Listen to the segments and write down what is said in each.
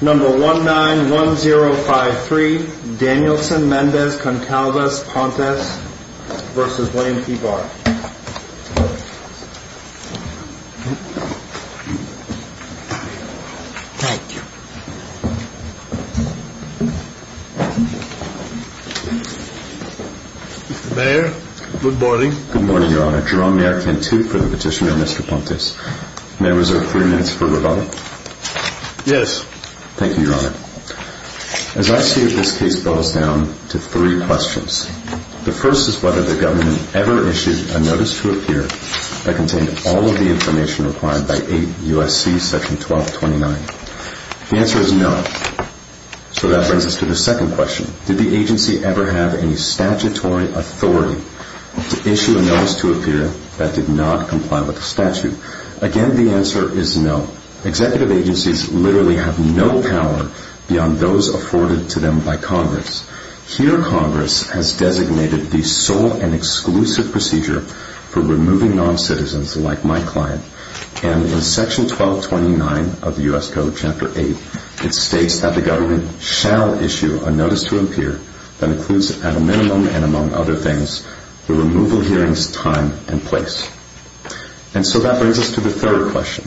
Number 191053 Danielson-Mendez-Concalves Pontes v. Wayne P. Barr Thank you Mr. Mayor, good morning Good morning, Your Honor. Jerome Mayorkin, too, for the petitioner, Mr. Pontes May I reserve three minutes for rebuttal? Yes Thank you, Your Honor As I see it, this case boils down to three questions The first is whether the government ever issued a notice to appear that contained all of the information required by 8 U.S.C. section 1229 The answer is no So that brings us to the second question Did the agency ever have any statutory authority to issue a notice to appear that did not comply with the statute? Again, the answer is no Executive agencies literally have no power beyond those afforded to them by Congress Here, Congress has designated the sole and exclusive procedure for removing non-citizens like my client And in section 1229 of U.S. Code, chapter 8 it states that the government shall issue a notice to appear that includes at a minimum and among other things the removal hearings time and place And so that brings us to the third question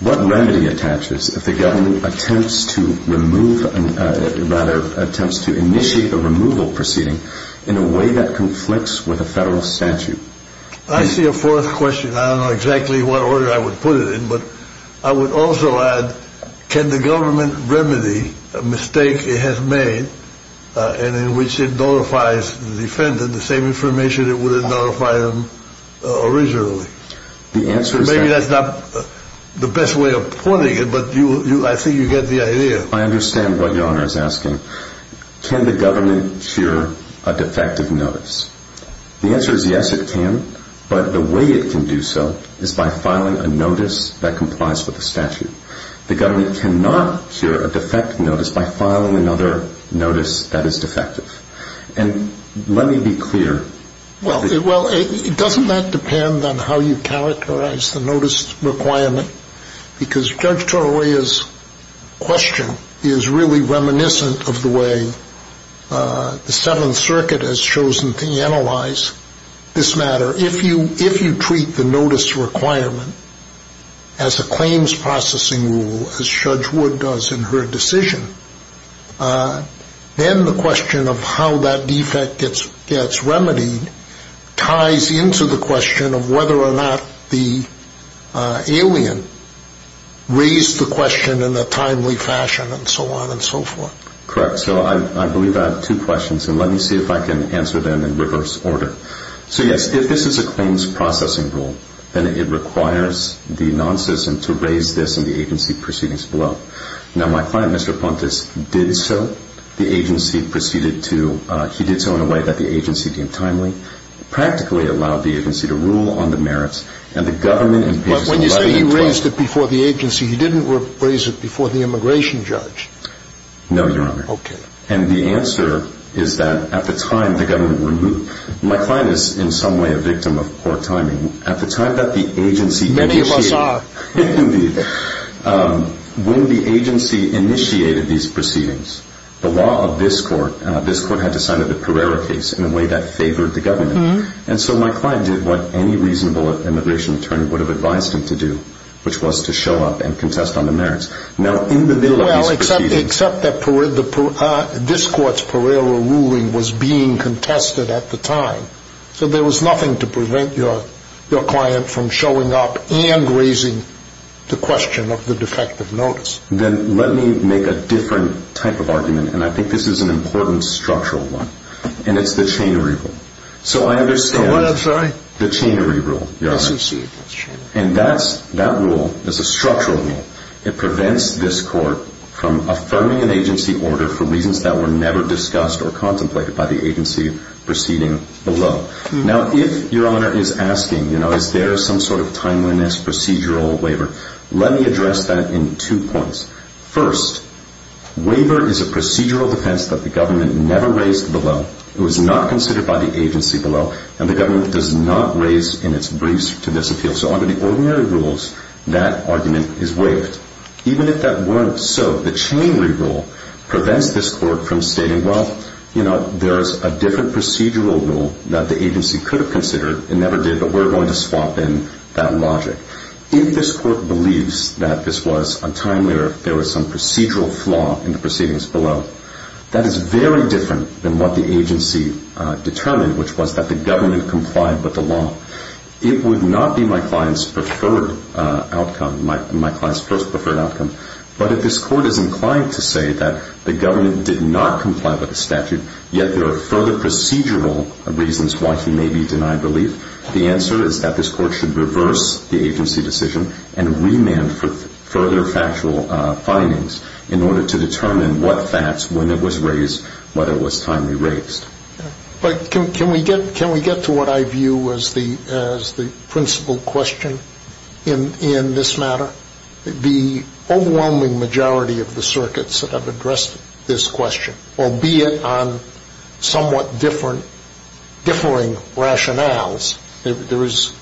What remedy attaches if the government attempts to remove rather, attempts to initiate a removal proceeding in a way that conflicts with a federal statute? I see a fourth question I don't know exactly what order I would put it in but I would also add Can the government remedy a mistake it has made in which it notifies the defendant the same information it would have notified him originally? Maybe that's not the best way of pointing it but I think you get the idea I understand what your honor is asking Can the government shear a defective notice? The answer is yes, it can But the way it can do so is by filing a notice that complies with the statute The government cannot shear a defective notice by filing another notice that is defective And let me be clear Well, doesn't that depend on how you characterize the notice requirement? Because Judge Torolla's question is really reminiscent of the way the Seventh Circuit has chosen to analyze this matter If you treat the notice requirement as a claims processing rule as Judge Wood does in her decision then the question of how that defect gets remedied ties into the question of whether or not the alien raised the question in a timely fashion and so on and so forth Correct, so I believe I have two questions and let me see if I can answer them in reverse order So yes, if this is a claims processing rule then it requires the non-citizen to raise this in the agency proceedings below Now my client, Mr. Pontes, did so He did so in a way that the agency deemed timely Practically allowed the agency to rule on the merits But when you say he raised it before the agency he didn't raise it before the immigration judge No, your honor And the answer is that at the time the government removed My client is in some way a victim of poor timing At the time that the agency initiated Many of us are When the agency initiated these proceedings the law of this court had decided the Pereira case in a way that favored the government And so my client did what any reasonable immigration attorney would have advised him to do which was to show up and contest on the merits Except that this court's Pereira ruling was being contested at the time So there was nothing to prevent your client from showing up and raising the question of the defective notice Then let me make a different type of argument And I think this is an important structural one And it's the chainery rule So I understand the chainery rule And that rule is a structural rule It prevents this court from affirming an agency order for reasons that were never discussed or contemplated by the agency proceeding below Now if your honor is asking Is there some sort of timeliness procedural waiver Let me address that in two points First, waiver is a procedural defense that the government never raised below It was not considered by the agency below And the government does not raise in its briefs to this appeal So under the ordinary rules, that argument is waived Even if that weren't so The chainery rule prevents this court from stating Well, you know, there's a different procedural rule that the agency could have considered It never did, but we're going to swap in that logic If this court believes that this was a time where there was some procedural flaw in the proceedings below that is very different than what the agency determined which was that the government complied with the law It would not be my client's preferred outcome my client's most preferred outcome But if this court is inclined to say that the government did not comply with the statute yet there are further procedural reasons why he may be denied relief the answer is that this court should reverse the agency decision and remand for further factual findings in order to determine what facts, when it was raised whether it was timely raised Can we get to what I view as the principal question in this matter? The overwhelming majority of the circuits that have addressed this question albeit on somewhat differing rationales there is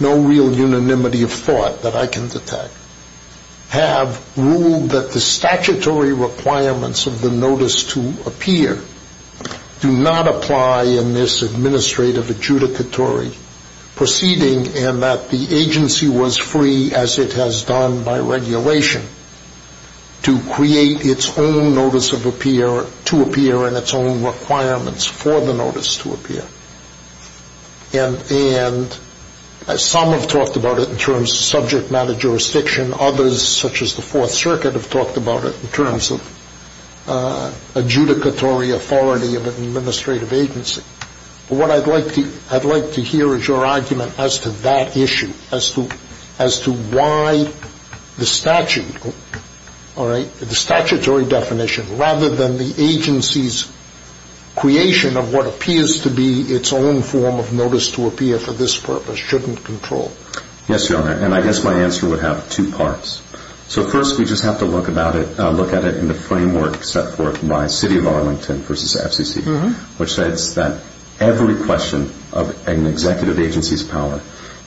no real unanimity of thought that I can detect have ruled that the statutory requirements of the notice to appear do not apply in this administrative adjudicatory proceeding and that the agency was free, as it has done by regulation to create its own notice to appear and its own requirements for the notice to appear and some have talked about it in terms of subject matter jurisdiction others, such as the Fourth Circuit, have talked about it in terms of adjudicatory authority of an administrative agency What I'd like to hear is your argument as to that issue as to why the statutory definition rather than the agency's creation of what appears to be its own form of notice to appear for this purpose shouldn't control Yes, Your Honor, and I guess my answer would have two parts So first we just have to look at it in the framework set forth by City of Arlington v. FCC which says that every question of an executive agency's power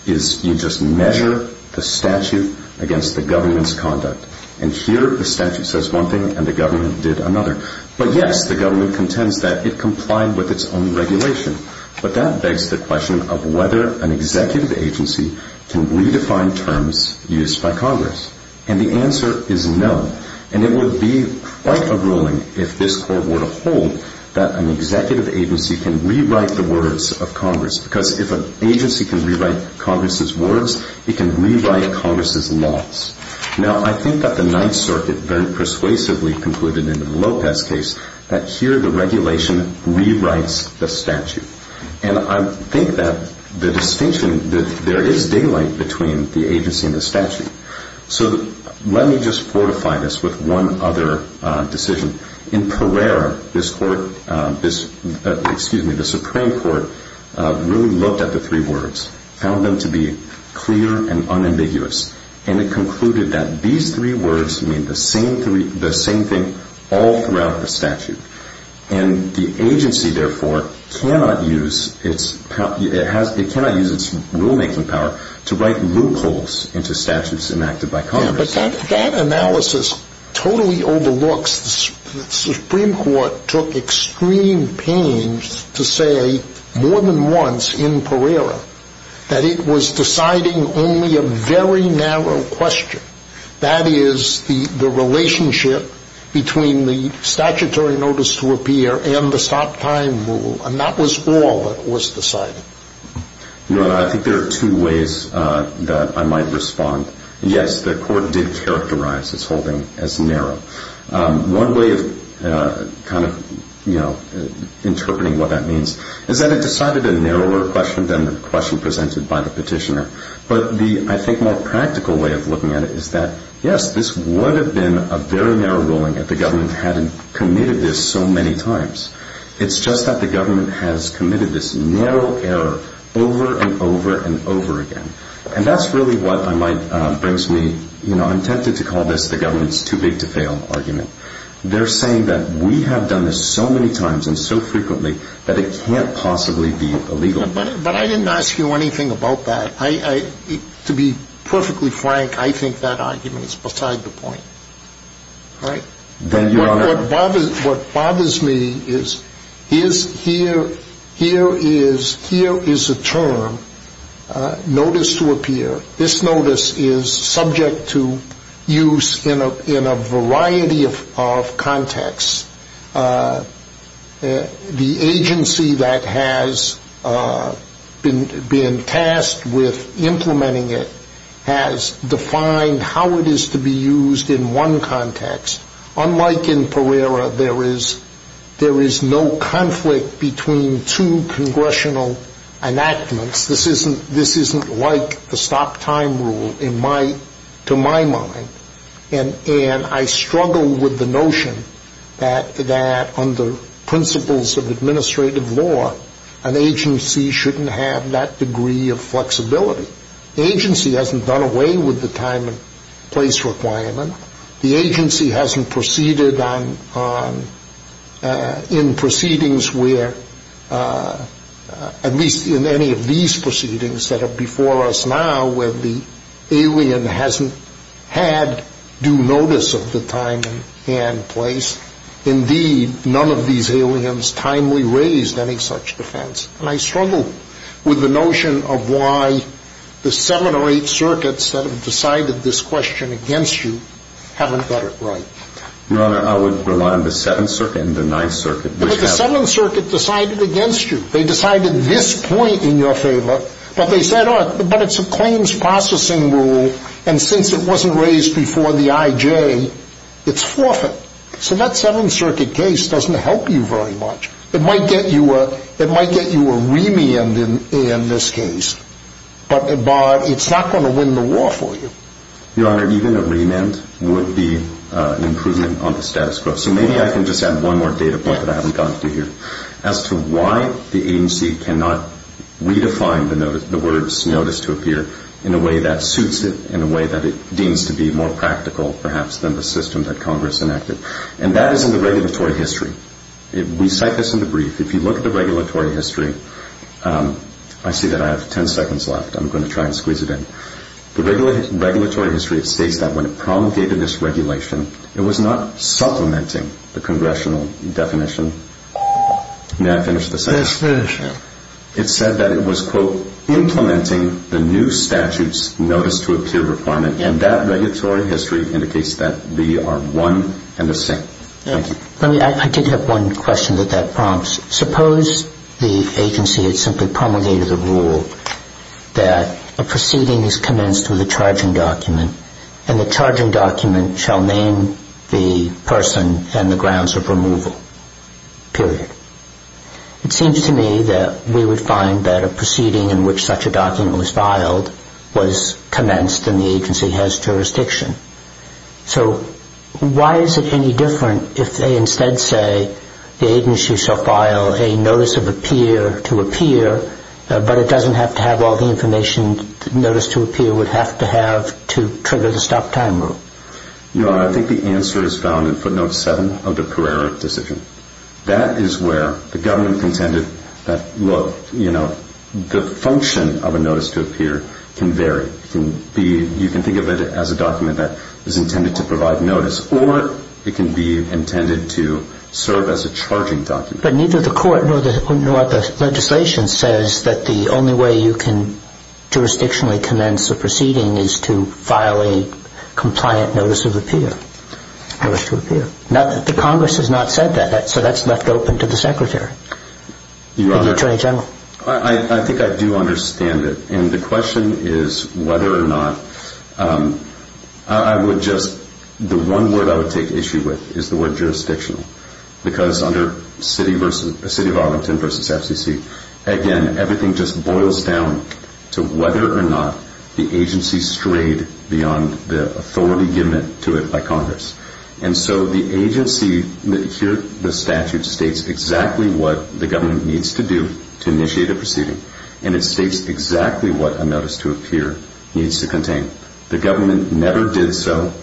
is you just measure the statute against the government's conduct and here the statute says one thing and the government did another But yes, the government contends that it complied with its own regulation but that begs the question of whether an executive agency can redefine terms used by Congress and the answer is no and it would be quite a ruling if this Court were to hold that an executive agency can rewrite the words of Congress because if an agency can rewrite Congress's words it can rewrite Congress's laws Now I think that the Ninth Circuit very persuasively concluded in the Lopez case that here the regulation rewrites the statute and I think that the distinction that there is daylight between the agency and the statute So let me just fortify this with one other decision In Pereira, this Court, excuse me, the Supreme Court really looked at the three words found them to be clear and unambiguous and it concluded that these three words mean the same thing all throughout the statute and the agency therefore cannot use its rulemaking power to write loopholes into statutes enacted by Congress Yeah, but that analysis totally overlooks the Supreme Court took extreme pains to say more than once in Pereira that it was deciding only a very narrow question That is the relationship between the statutory notice to appear and the stop time rule and that was all that was decided Your Honor, I think there are two ways that I might respond Yes, the Court did characterize its holding as narrow One way of kind of, you know, interpreting what that means is that it decided a narrower question than the question presented by the petitioner But the, I think, more practical way of looking at it is that yes, this would have been a very narrow ruling if the government hadn't committed this so many times It's just that the government has committed this narrow error over and over and over again And that's really what I might, brings me, you know I'm tempted to call this the government's too-big-to-fail argument They're saying that we have done this so many times and so frequently that it can't possibly be illegal But I didn't ask you anything about that To be perfectly frank, I think that argument is beside the point Right? Your Honor What bothers me is Here is a term, notice to appear This notice is subject to use in a variety of contexts The agency that has been tasked with implementing it has defined how it is to be used in one context Unlike in Pereira, there is no conflict between two congressional enactments This isn't like the stop-time rule in my, to my mind And I struggle with the notion that under principles of administrative law an agency shouldn't have that degree of flexibility The agency hasn't done away with the time and place requirement The agency hasn't proceeded in proceedings where at least in any of these proceedings that are before us now where the alien hasn't had due notice of the time and place Indeed, none of these aliens timely raised any such defense And I struggle with the notion of why the seven or eight circuits that have decided this question against you haven't got it right Your Honor, I would rely on the Seventh Circuit and the Ninth Circuit But the Seventh Circuit decided against you They decided this point in your favor But they said, oh, but it's a claims processing rule And since it wasn't raised before the IJ, it's forfeit So that Seventh Circuit case doesn't help you very much It might get you a remand in this case But it's not going to win the war for you Your Honor, even a remand would be an improvement on the status quo So maybe I can just add one more data point that I haven't gotten to here As to why the agency cannot redefine the word notice to appear in a way that suits it, in a way that it deems to be more practical perhaps, than the system that Congress enacted And that is in the regulatory history We cite this in the brief If you look at the regulatory history I see that I have ten seconds left I'm going to try and squeeze it in The regulatory history states that when it promulgated this regulation It was not supplementing the Congressional definition May I finish the sentence? Yes, finish it It said that it was, quote, Implementing the new statute's notice to appear requirement And that regulatory history indicates that They are one and the same Thank you I did have one question that that prompts Suppose the agency had simply promulgated the rule That a proceeding is commenced with a charging document And the charging document shall name the person And the grounds of removal Period It seems to me that we would find that A proceeding in which such a document was filed Was commenced and the agency has jurisdiction So, why is it any different if they instead say The agency shall file a notice of appear to appear But it doesn't have to have all the information A notice to appear would have to have to trigger the stop time rule No, I think the answer is found in footnote 7 of the Pereira decision That is where the government contended that Look, you know, the function of a notice to appear can vary You can think of it as a document that is intended to provide notice Or it can be intended to serve as a charging document But neither the court nor the legislation says That the only way you can jurisdictionally commence a proceeding Is to file a compliant notice of appear Notice to appear Now, the Congress has not said that So that's left open to the Secretary And the Attorney General I think I do understand it And the question is whether or not I would just, the one word I would take issue with Is the word jurisdictional Because under City of Arlington versus FCC Again, everything just boils down to whether or not The agency strayed beyond the authority given to it by Congress And so the agency, here the statute states Exactly what the government needs to do to initiate a proceeding And it states exactly what a notice to appear needs to contain The government never did so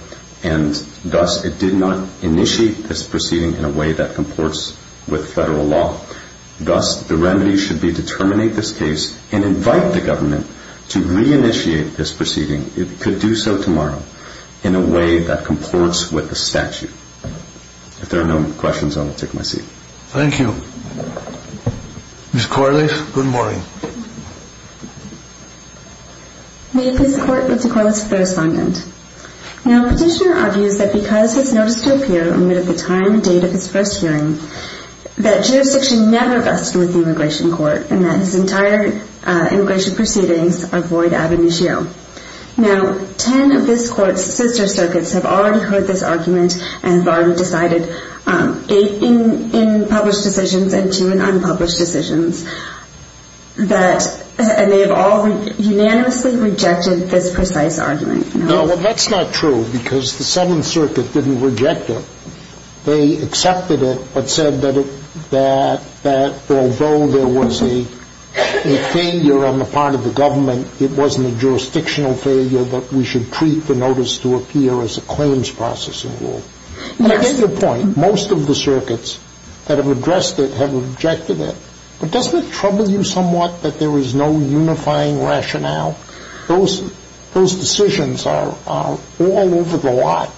And thus it did not initiate this proceeding In a way that comports with federal law Thus, the remedy should be to terminate this case And invite the government to re-initiate this proceeding It could do so tomorrow In a way that comports with the statute If there are no questions, I will take my seat Thank you Ms. Corliss, good morning May this court move to Corliss for the respondent Now, Petitioner argues that because his notice to appear Amid the time and date of his first hearing That jurisdiction never rested with the immigration court And that his entire immigration proceedings avoid ab initio Now, ten of this court's sister circuits Have already heard this argument And have already decided Eight in published decisions And two in unpublished decisions And they have all unanimously rejected this precise argument No, well that's not true Because the Seventh Circuit didn't reject it They accepted it, but said that Although there was a failure on the part of the government It wasn't a jurisdictional failure That we should treat the notice to appear As a claims processing rule That's the point Most of the circuits that have addressed it Have rejected it But doesn't it trouble you somewhat That there is no unifying rationale Those decisions are all over the lot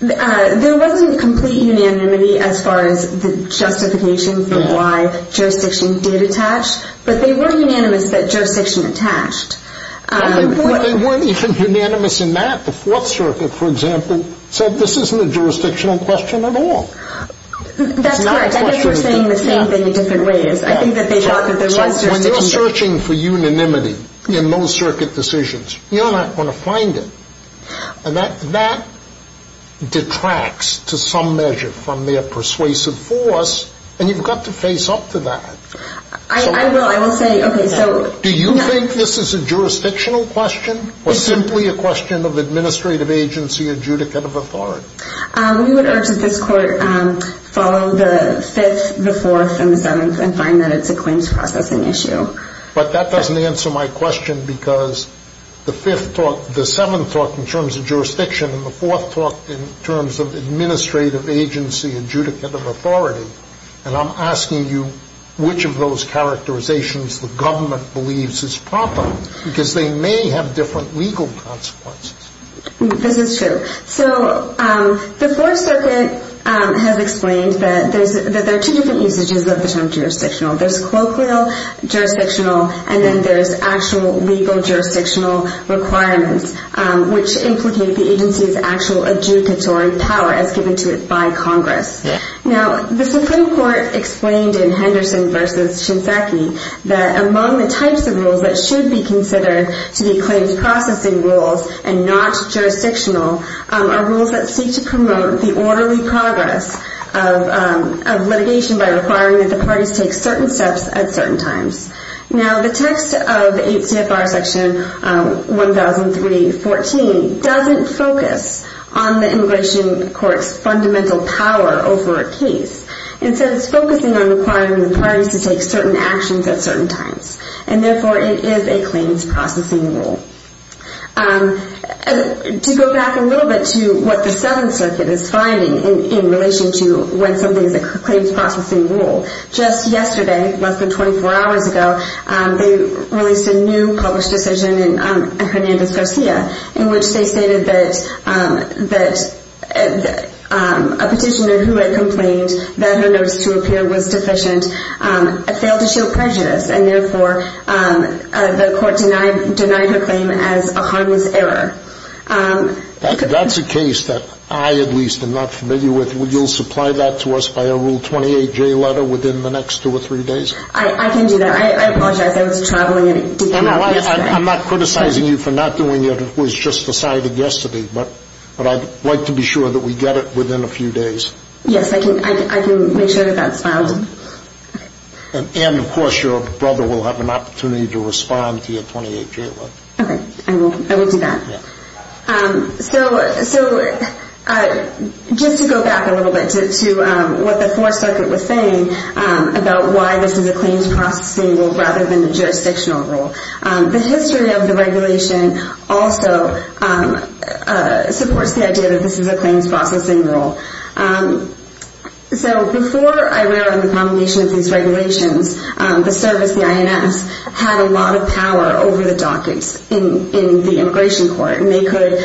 There wasn't complete unanimity As far as the justification for why jurisdiction did attach But they were unanimous that jurisdiction attached They weren't even unanimous in that The Fourth Circuit, for example Said this isn't a jurisdictional question at all That's correct I think they were saying the same thing in different ways I think that they thought that there was jurisdiction When you're searching for unanimity In those circuit decisions You're not going to find it And that detracts to some measure From their persuasive force And you've got to face up to that I will, I will say Do you think this is a jurisdictional question Or simply a question of administrative agency Adjudicative authority We would urge that this court Follow the Fifth, the Fourth, and the Seventh And find that it's a claims processing issue But that doesn't answer my question Because the Fifth taught The Seventh taught in terms of jurisdiction And the Fourth taught in terms of administrative agency Adjudicative authority And I'm asking you Which of those characterizations The government believes is proper Because they may have different legal consequences This is true So the Fourth Circuit has explained That there are two different usages Of the term jurisdictional There's colloquial, jurisdictional And then there's actual legal jurisdictional requirements Which implicate the agency's actual adjudicatory power As given to it by Congress Now the Supreme Court explained In Henderson v. Shinzaki That among the types of rules That should be considered To be claims processing rules And not jurisdictional Are rules that seek to promote The orderly progress of litigation By requiring that the parties Take certain steps at certain times Now the text of CFR Section 1003.14 Doesn't focus on the immigration court's Fundamental power over a case Instead it's focusing on requiring the parties To take certain actions at certain times And therefore it is a claims processing rule To go back a little bit to What the Seventh Circuit is finding In relation to when something is a claims processing rule Just yesterday, less than 24 hours ago They released a new published decision In Hernandez-Garcia In which they stated that A petitioner who had complained That her notice to appear was deficient Failed to show prejudice And therefore the court denied her claim As a harmless error That's a case that I at least am not familiar with So you'll supply that to us by a Rule 28J letter Within the next two or three days? I can do that, I apologize I was traveling and didn't hear you I'm not criticizing you for not doing it It was just decided yesterday But I'd like to be sure that we get it Within a few days Yes, I can make sure that that's filed And of course your brother will have an opportunity To respond to your 28J letter Okay, I will do that So just to go back a little bit To what the Fourth Circuit was saying About why this is a claims processing rule Rather than a jurisdictional rule The history of the regulation Also supports the idea That this is a claims processing rule So before IRR And the combination of these regulations The service, the INS Had a lot of power over the dockets In the immigration court And they could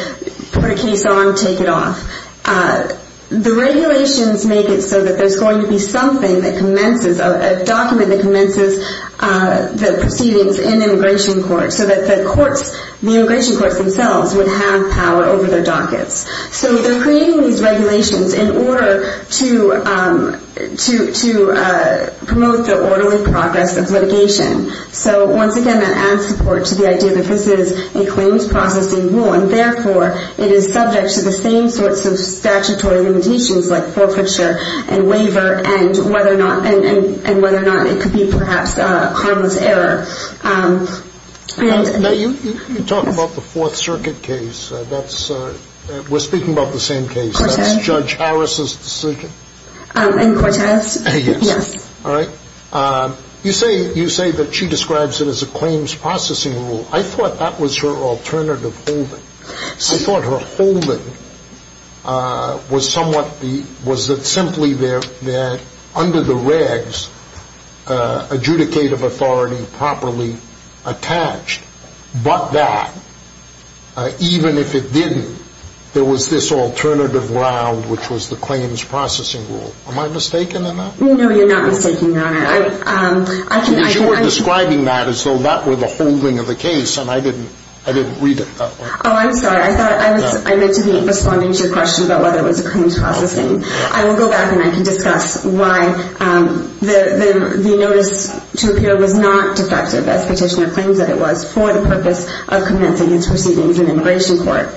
put a case on, take it off The regulations make it so that There's going to be something that commences A document that commences The proceedings in immigration court So that the courts, the immigration courts themselves Would have power over their dockets So they're creating these regulations In order to promote the orderly progress of litigation So once again that adds support to the idea That this is a claims processing rule And therefore it is subject to the same sorts of Statutory limitations like forfeiture and waiver And whether or not it could be perhaps harmless error Now you talk about the Fourth Circuit case We're speaking about the same case That's Judge Harris' decision And Cortez, yes All right You say that she describes it as a claims processing rule I thought that was her alternative holding I thought her holding was somewhat Was that simply there Under the regs Adjudicative authority properly attached But that Even if it didn't There was this alternative round Which was the claims processing rule Am I mistaken in that? No you're not mistaken Because you were describing that As though that were the holding of the case And I didn't read it that way Oh I'm sorry I meant to be responding to your question About whether it was a claims processing I will go back and I can discuss Why the notice to appear was not defective As petitioner claims that it was For the purpose of commencing its proceedings In immigration court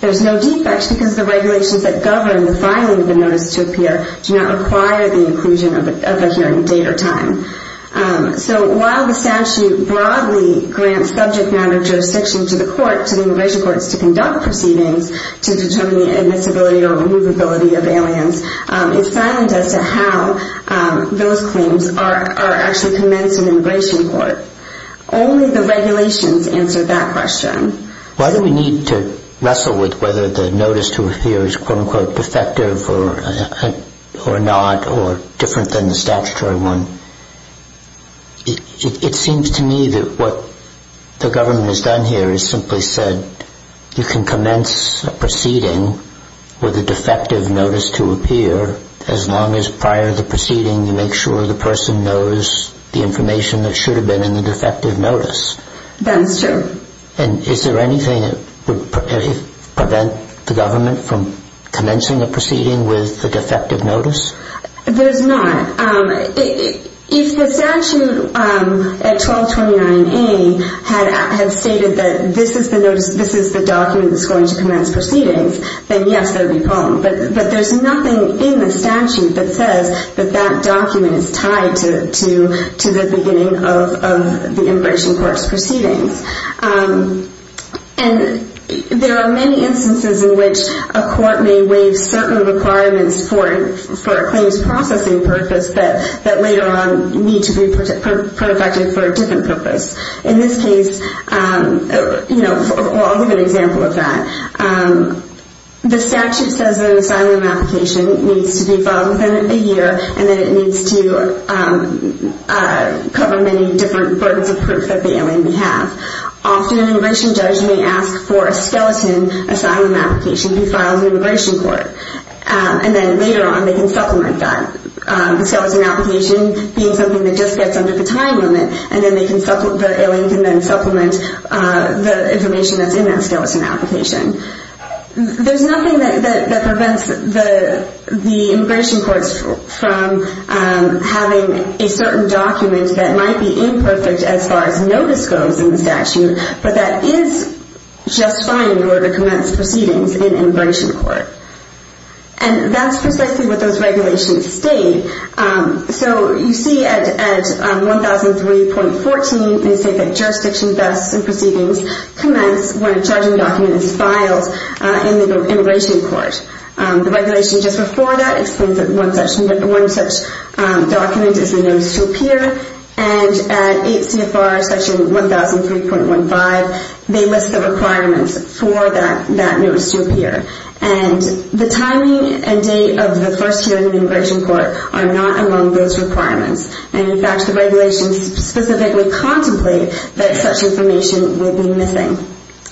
There's no defect because the regulations That govern the filing of the notice to appear Do not require the inclusion Of a hearing date or time So while the statute broadly Grants subject matter jurisdiction To the immigration courts To conduct proceedings To determine the admissibility or removability Of aliens It's silent as to how those claims Are actually commenced in immigration court Only the regulations Answer that question Why do we need to wrestle with Whether the notice to appear Is quote unquote defective Or not Or different than the statutory one It seems to me That what the government Has done here Is simply said You can commence a proceeding With a defective notice to appear As long as prior to the proceeding You make sure the person knows The information that should have been In the defective notice That's true And is there anything that would Prevent the government From commencing a proceeding With a defective notice There's not If the statute At 1229A Had stated that this is the Document that's going to commence proceedings Then yes there would be a problem But there's nothing in the statute That says that that document Is tied to the beginning Of the immigration court's proceedings And There are many instances In which a court may Waive certain requirements For a claims processing purpose That later on need to be Protected for a different purpose In this case You know I'll give an example of that The statute says an asylum application Needs to be filed within a year And that it needs to Cover many different Birds of proof that the alien may have Often an immigration judge May ask for a skeleton Asylum application to be filed in the immigration court And then later on They can supplement that The skeleton application being something that just gets Under the time limit And then the alien can then supplement The information that's in that skeleton application There's nothing That prevents The immigration courts From having A certain document that might be Imperfect as far as notice goes In the statute But that is just fine in order to commence Proceedings in immigration court And that's precisely What those regulations state So you see at 1003.14 They say that jurisdiction vests And proceedings commence when a Judging document is filed in the Immigration court The regulation just before that Explains that one such Document is a notice to appear And at 8 CFR Section 1003.15 They list the requirements For that notice to appear And the timing And date of the first hearing in the immigration court Are not among those requirements And in fact the regulations Specifically contemplate that Such information would be missing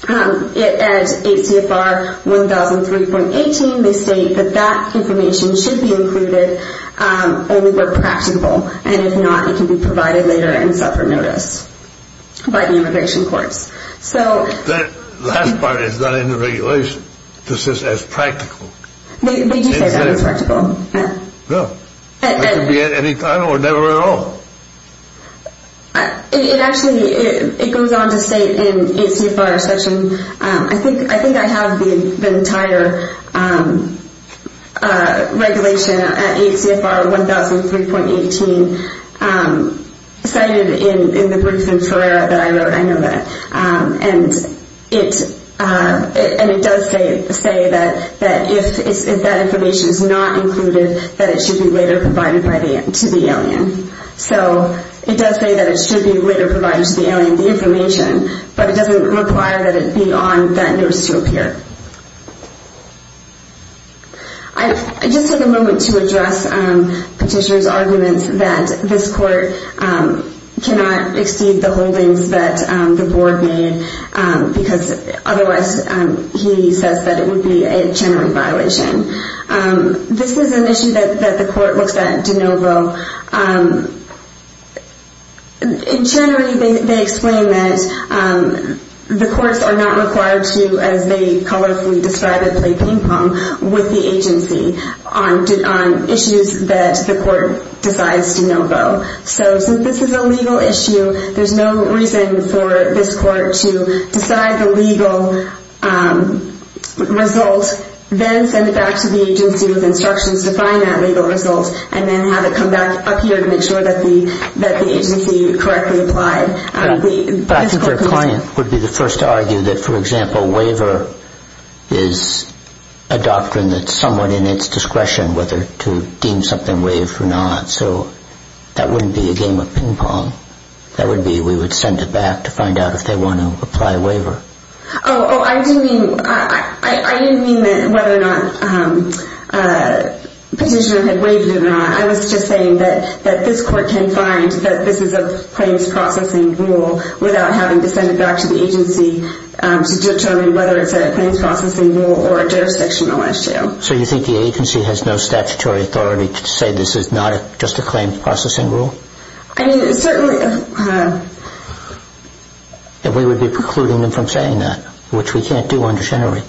At 8 CFR 1003.18 They state that that information should be Included only where Practical and if not it can be Provided later and set for notice By the immigration courts So That last part is not in the regulation It's just as practical They do say that it's practical It could be at any time or never at all It actually It goes on to state in 8 CFR Section I think I have the entire Regulation At 8 CFR 1003.18 Cited in the Brief in Ferrara that I wrote And it And it does say That if that Information is not included That it should be later provided to the alien So It does say that it should be later provided to the alien The information but it doesn't Require that it be on that notice to appear I just Took a moment to address Petitioner's arguments that this court Cannot Exceed the holdings that the board Made because Otherwise he says that it Would be a general violation This is an issue that The court looks at in De Novo And generally They explain that The courts are not required to As they Colorfully describe it With the agency On issues that the court Decides to De Novo So since this is a legal issue There's no reason for this court To decide the legal Result Then send it back to the agency With instructions to find that legal result And then have it come back up here To make sure that the agency Correctly applied But I think their client would be the first to argue That for example waiver Is a doctrine That's somewhat in its discretion Whether to deem something waived or not So that wouldn't be a game of Ping pong That would be we would send it back to find out if they want to Apply a waiver Oh I didn't mean That whether or not The petitioner had waived it or not I was just saying that this court can Find that this is a claims processing Rule without having to send it back To the agency To determine whether it's a claims processing rule Or a jurisdictional issue So you think the agency has no statutory authority To say this is not just a claims Processing rule I mean certainly And we would be precluding them From saying that Which we can't do generally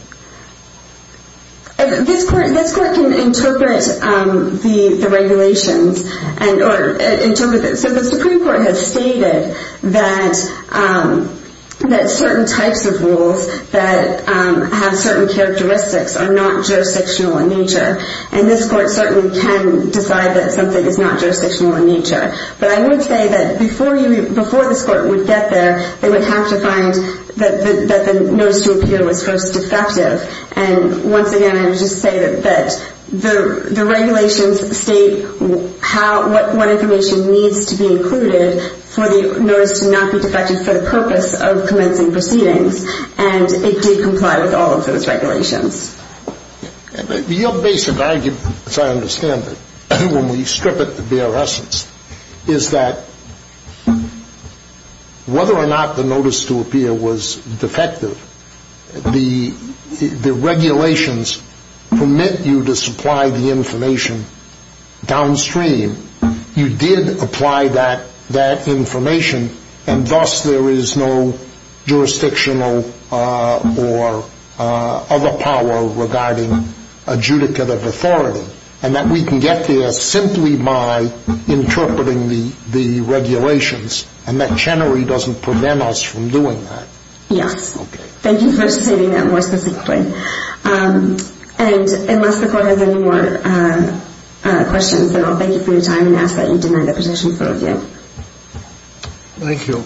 This court This court can interpret The regulations Or interpret So the supreme court has stated That That certain types of rules That have certain characteristics Are not jurisdictional in nature And this court certainly can Decide that something is not jurisdictional in nature But I would say that Before this court would get there They would have to find That the notice to appear Was first defective And once again I would just say that The regulations state What information Needs to be included For the notice to not be defective For the purpose of commencing proceedings And it did comply with all of those regulations Your basic argument As I understand it When we strip it to bare essence Is that Whether or not The notice to appear was defective The The regulations Permit you to supply the information Downstream You did apply that That information And thus there is no Jurisdictional Or other power Regarding adjudicative authority And that we can get there Simply by Notifying this court To do that And that Chenery doesn't prevent us from doing that Yes Thank you for stating that more specifically And unless the Court has any more Questions Thank you Thank you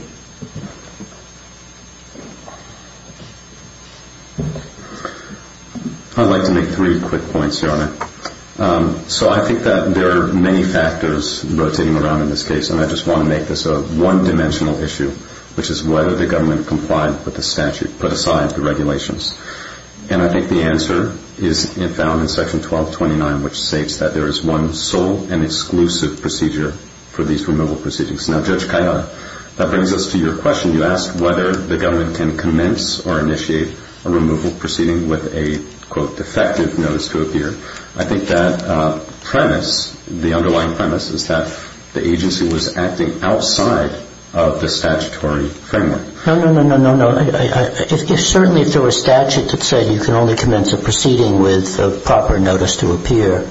I'd like to make Three quick points Your Honor So I think that There are many factors rotating around In this case and I just want to make this a One-dimensional issue Which is whether the government complied with the statute Put aside the regulations And I think the answer is Found in section 1229 which states That there is one sole and exclusive Procedure for these removal proceedings Now Judge Kayada That brings us to your question You asked whether the government can commence or initiate A removal proceeding with a Quote defective notice to appear I think that premise The underlying premise is that The agency was acting outside Of the statutory framework No, no, no, no, no Certainly if there were a statute that said You can only commence a proceeding with A proper notice to appear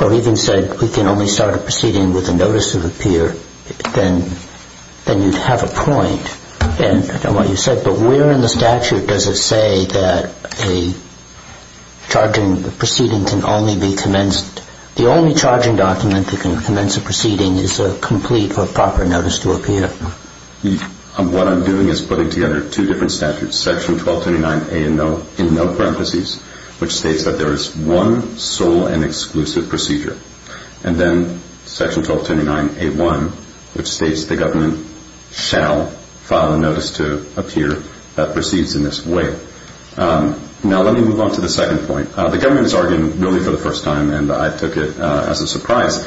Or even said we can only start a proceeding With a notice to appear Then you'd have a point And I don't know what you said But where in the statute does it say That a Charging proceeding can only be Commenced, the only charging document That can commence a proceeding Is a complete or proper notice to appear What I'm doing Is putting together two different statutes Section 1229A in no Parenthesis which states that there is One sole and exclusive Procedure and then Section 1229A1 Which states the government shall File a notice to appear That proceeds in this way Now let me move on to the second point The government is arguing, really for the first time And I took it as a surprise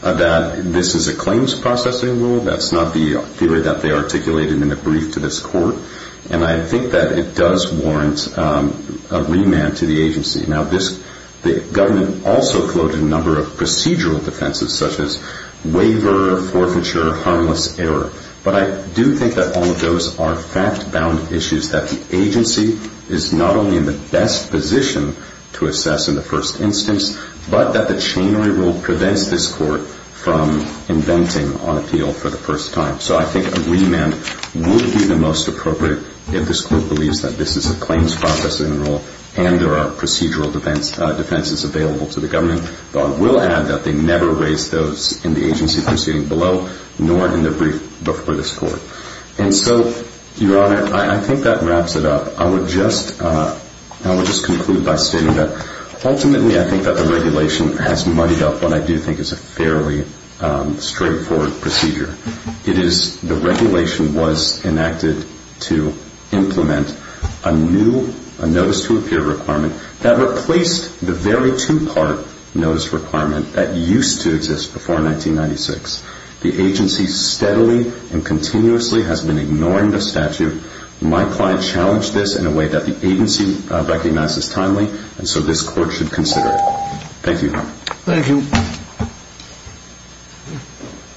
That this is a claims Processing rule, that's not the Theory that they articulated in the brief to this Court and I think that it does Warrant a remand To the agency, now this The government also floated a number Of procedural defenses such as Waiver, forfeiture, harmless Error, but I do think that All of those are fact bound issues That the agency is not only In the best position to Assess in the first instance, but That the chain rule prevents this court From inventing on Appeal for the first time, so I think a Remand would be the most appropriate If this court believes that this is A claims processing rule and there Are procedural defenses Available to the government, but I will add That they never raise those in the agency Proceeding below, nor in the brief Before this court, and so Your Honor, I think that wraps it up I would just I would just conclude by stating that Ultimately I think that the regulation has Muddied up what I do think is a fairly Straightforward procedure It is, the regulation Was enacted to Implement a new A notice to appear requirement That replaced the very two part Notice requirement that used To exist before 1996 The agency steadily And continuously has been ignoring The statute. My client challenged This in a way that the agency Recognizes timely, and so this court Should consider it. Thank you Thank you